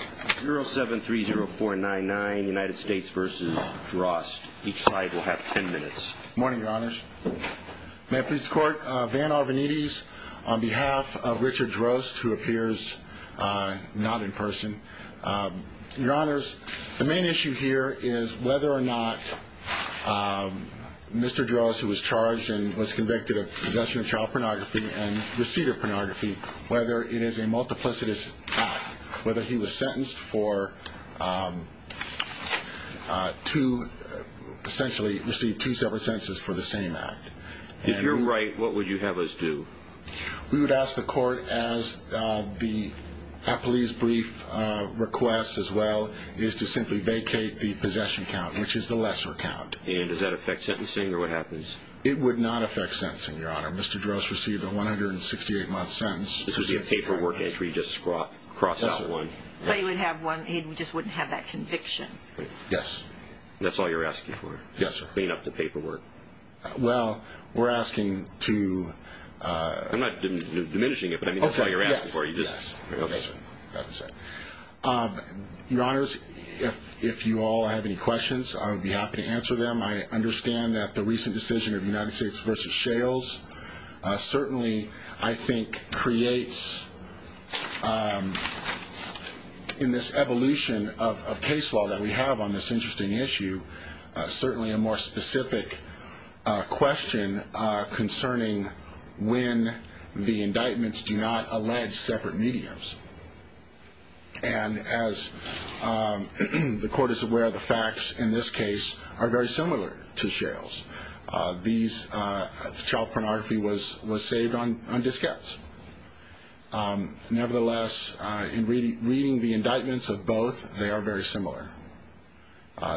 0730499 United States v. Drost. Each side will have 10 minutes. Good morning, your honors. May I please court, Van Arvanites, on behalf of Richard Drost, who appears not in person. Your honors, the main issue here is whether or not Mr. Drost, who was charged and was convicted of possession of child pornography and receded pornography, whether it is a multiplicitous act, whether he was sentenced for two, essentially received two separate sentences for the same act. If you're right, what would you have us do? We would ask the court, as the police brief requests as well, is to simply vacate the possession count, which is the lesser count. And does that affect sentencing or what happens? It would not affect sentencing, your honor. Mr. Drost received a 168-month sentence. This would be a paperwork entry, just cross out one. But he would have one, he just wouldn't have that conviction. Yes. That's all you're asking for? Yes, sir. Clean up the paperwork? Well, we're asking to... I'm not diminishing it, but I mean that's all you're asking for. Yes, yes. Okay. That's it. Your honors, if you all have any questions, I would be happy to answer them. I understand that the recent decision of United States v. Shales certainly, I think, creates in this evolution of case law that we have on this interesting issue, certainly a more specific question concerning when the indictments do not allege separate mediums. And as the court is aware, the facts in this case are very similar to Shales. These, child pornography was saved on diskettes. Nevertheless, in reading the indictments of both, they are very similar.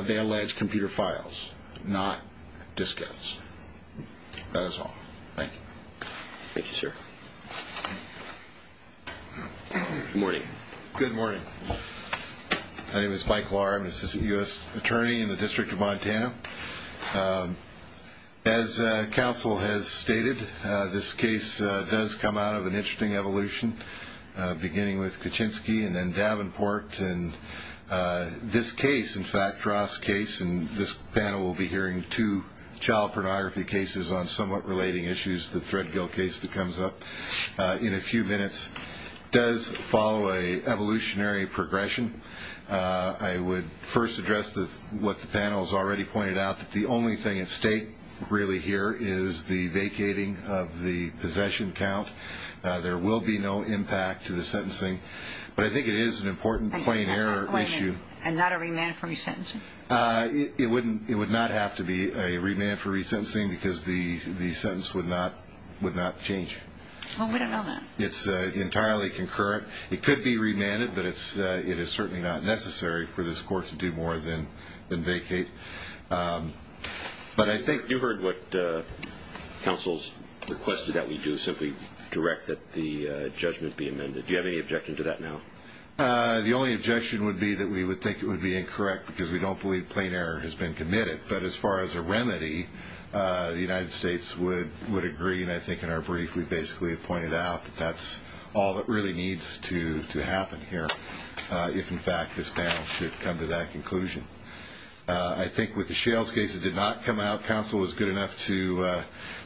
They allege computer files, not diskettes. That is all. Thank you. Thank you, sir. Good morning. Good morning. My name is Mike Law. I'm an assistant U.S. attorney in the District of Montana. As counsel has stated, this case does come out of an interesting evolution, beginning with Kuczynski and then Davenport. And this case, in fact, Ross' case, and this panel will be hearing two child pornography cases on somewhat relating issues, the Threadgill case that comes up in a few minutes, does follow an evolutionary progression. I would first address what the panel has already pointed out, that the only thing at stake really here is the vacating of the possession count. There will be no impact to the sentencing. But I think it is an important plain error issue. And not a remand for resentencing? It would not have to be a remand for resentencing because the sentence would not change. Well, we don't know that. It's entirely concurrent. It could be remanded, but it is certainly not necessary for this court to do more than vacate. You heard what counsel has requested that we do, simply direct that the judgment be amended. Do you have any objection to that now? The only objection would be that we would think it would be incorrect because we don't believe plain error has been committed. But as far as a remedy, the United States would agree. And I think in our brief, we basically pointed out that that's all that really needs to happen here. If, in fact, this panel should come to that conclusion. I think with the Shales case, it did not come out. Counsel was good enough to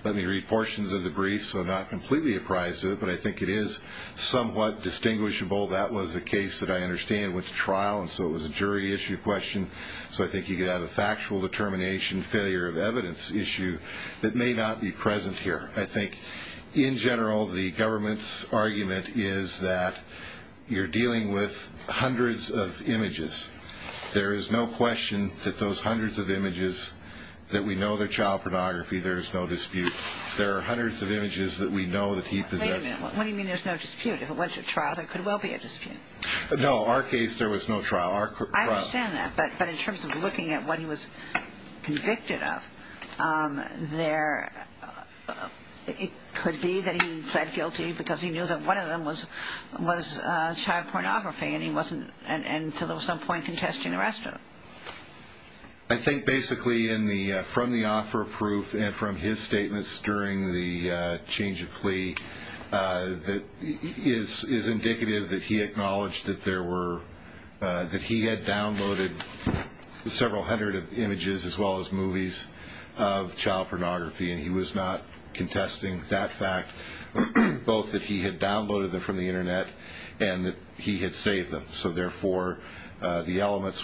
let me read portions of the brief, so I'm not completely apprised of it. But I think it is somewhat distinguishable. That was a case that I understand went to trial. And so it was a jury issue question. So I think you could have a factual determination failure of evidence issue that may not be present here. I think, in general, the government's argument is that you're dealing with hundreds of images. There is no question that those hundreds of images, that we know they're child pornography, there's no dispute. There are hundreds of images that we know that he possessed. Wait a minute. What do you mean there's no dispute? If it went to trial, there could well be a dispute. No, our case, there was no trial. I understand that. But in terms of looking at what he was convicted of, it could be that he pled guilty because he knew that one of them was child pornography and so there was no point in contesting the rest of them. I think, basically, from the offer of proof and from his statements during the change of plea, it is indicative that he acknowledged that he had downloaded several hundred images, as well as movies, of child pornography. And he was not contesting that fact, both that he had downloaded them from the Internet and that he had saved them. So, therefore, the elements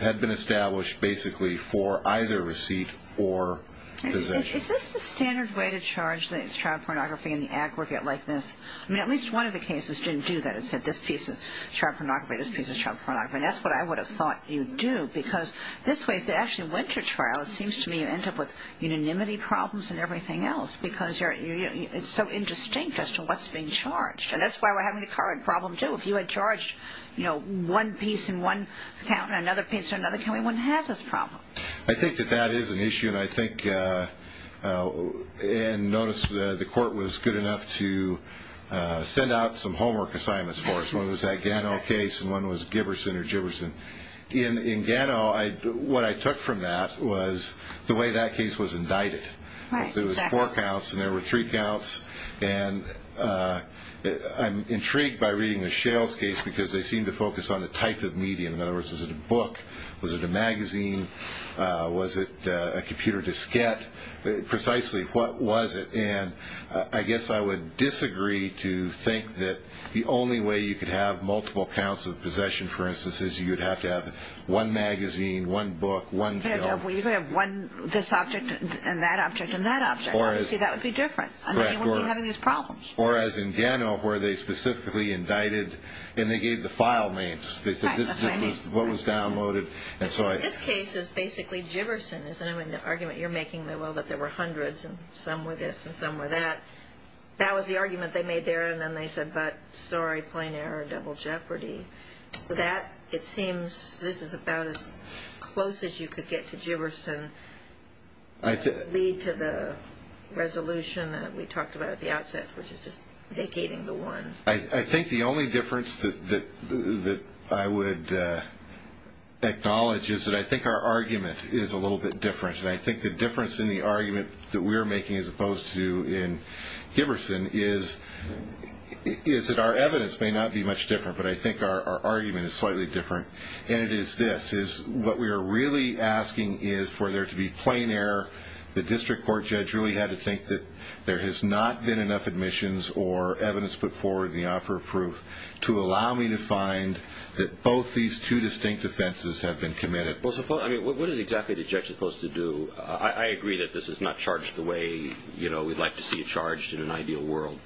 had been established, basically, for either receipt or possession. Is this the standard way to charge child pornography in the aggregate like this? I mean, at least one of the cases didn't do that. It said, this piece is child pornography, this piece is child pornography. And that's what I would have thought you'd do because this way, if it actually went to trial, it seems to me you end up with unanimity problems and everything else because it's so indistinct as to what's being charged. And that's why we're having the current problem, too. If you had charged one piece in one account and another piece in another account, we wouldn't have this problem. I think that that is an issue. And I think and notice the court was good enough to send out some homework assignments for us. One was that Gano case and one was Giberson or Giberson. In Gano, what I took from that was the way that case was indicted. It was four counts and there were three counts. And I'm intrigued by reading the Shales case because they seem to focus on the type of medium. Was it a magazine? Was it a computer diskette? Precisely, what was it? And I guess I would disagree to think that the only way you could have multiple counts of possession, for instance, is you would have to have one magazine, one book, one film. You could have one this object and that object and that object. See, that would be different. And then you wouldn't be having these problems. Or as in Gano where they specifically indicted and they gave the file names. They said this is what was downloaded. This case is basically Giberson, isn't it? I mean, the argument you're making, well, that there were hundreds and some were this and some were that. That was the argument they made there. And then they said, but, sorry, plain error, double jeopardy. That, it seems, this is about as close as you could get to Giberson. I think. Lead to the resolution that we talked about at the outset, which is just vacating the one. I think the only difference that I would acknowledge is that I think our argument is a little bit different. And I think the difference in the argument that we're making as opposed to in Giberson is that our evidence may not be much different. But I think our argument is slightly different. And it is this, is what we are really asking is for there to be plain error. The district court judge really had to think that there has not been enough admissions or evidence put forward in the offer of proof to allow me to find that both these two distinct offenses have been committed. Well, I mean, what is exactly the judge supposed to do? I agree that this is not charged the way, you know, we'd like to see it charged in an ideal world.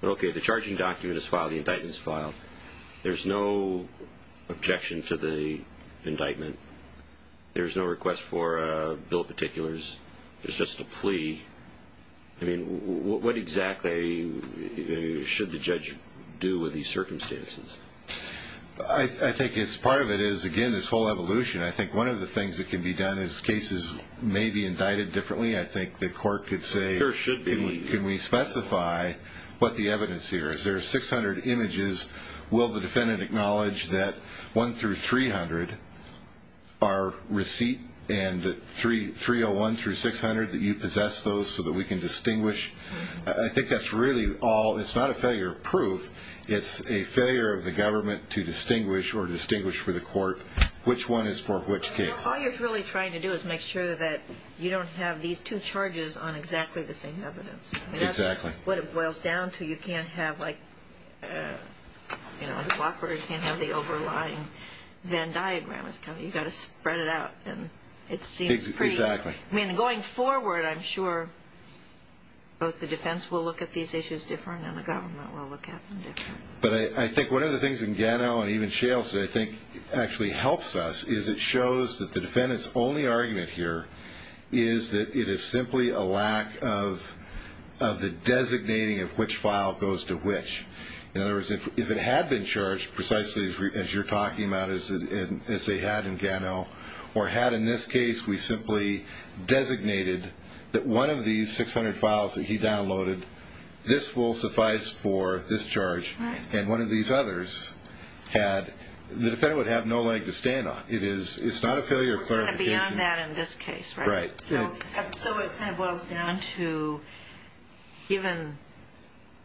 But, okay, the charging document is filed. The indictment is filed. There's no objection to the indictment. There's no request for bill particulars. There's just a plea. I mean, what exactly should the judge do with these circumstances? I think part of it is, again, this whole evolution. I think one of the things that can be done is cases may be indicted differently. I think the court could say can we specify what the evidence here is. There are 600 images. Will the defendant acknowledge that 1 through 300 are receipt and 301 through 600 that you possess those so that we can distinguish? I think that's really all. It's not a failure of proof. It's a failure of the government to distinguish or distinguish for the court which one is for which case. All you're really trying to do is make sure that you don't have these two charges on exactly the same evidence. Exactly. What it boils down to, you can't have the overlying Venn diagram. You've got to spread it out, and it seems pretty. Exactly. I mean, going forward, I'm sure both the defense will look at these issues differently and the government will look at them differently. But I think one of the things in Gano and even Shales that I think actually helps us is it shows that the defendant's only argument here is that it is simply a lack of the designating of which file goes to which. In other words, if it had been charged precisely as you're talking about, as they had in Gano, or had in this case we simply designated that one of these 600 files that he downloaded, this will suffice for this charge, and one of these others had, the defendant would have no leg to stand on. It's not a failure of clarification. Beyond that in this case, right? Right. So it kind of boils down to, given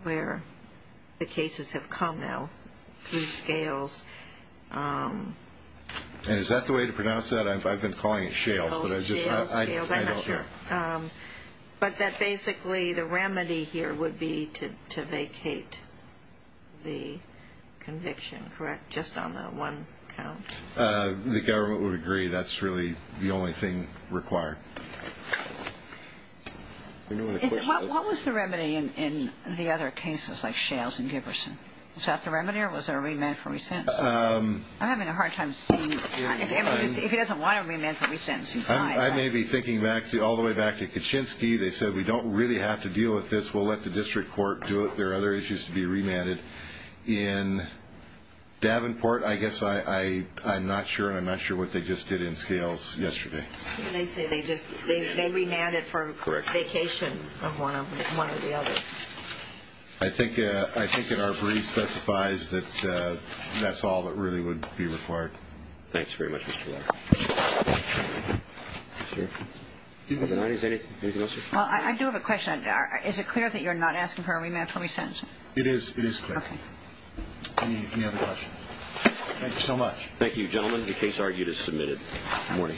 where the cases have come now through Scales. Is that the way to pronounce that? I've been calling it Shales, but I'm not sure. But that basically the remedy here would be to vacate the conviction, correct, just on the one count? The government would agree that's really the only thing required. What was the remedy in the other cases like Shales and Giberson? Was that the remedy or was there a remand for recents? I'm having a hard time seeing. If he doesn't want a remand for recents, he's fine. I may be thinking all the way back to Kuczynski. They said we don't really have to deal with this. We'll let the district court do it. There are other issues to be remanded. In Davenport, I guess I'm not sure, and I'm not sure what they just did in Scales yesterday. They remanded for a vacation of one or the other. I think our brief specifies that that's all that really would be required. Thanks very much, Mr. Lauer. Is there anything else, sir? I do have a question. Is it clear that you're not asking for a remand for recents? It is clear. Any other questions? Thank you so much. Thank you, gentlemen. The case argued is submitted. Good morning.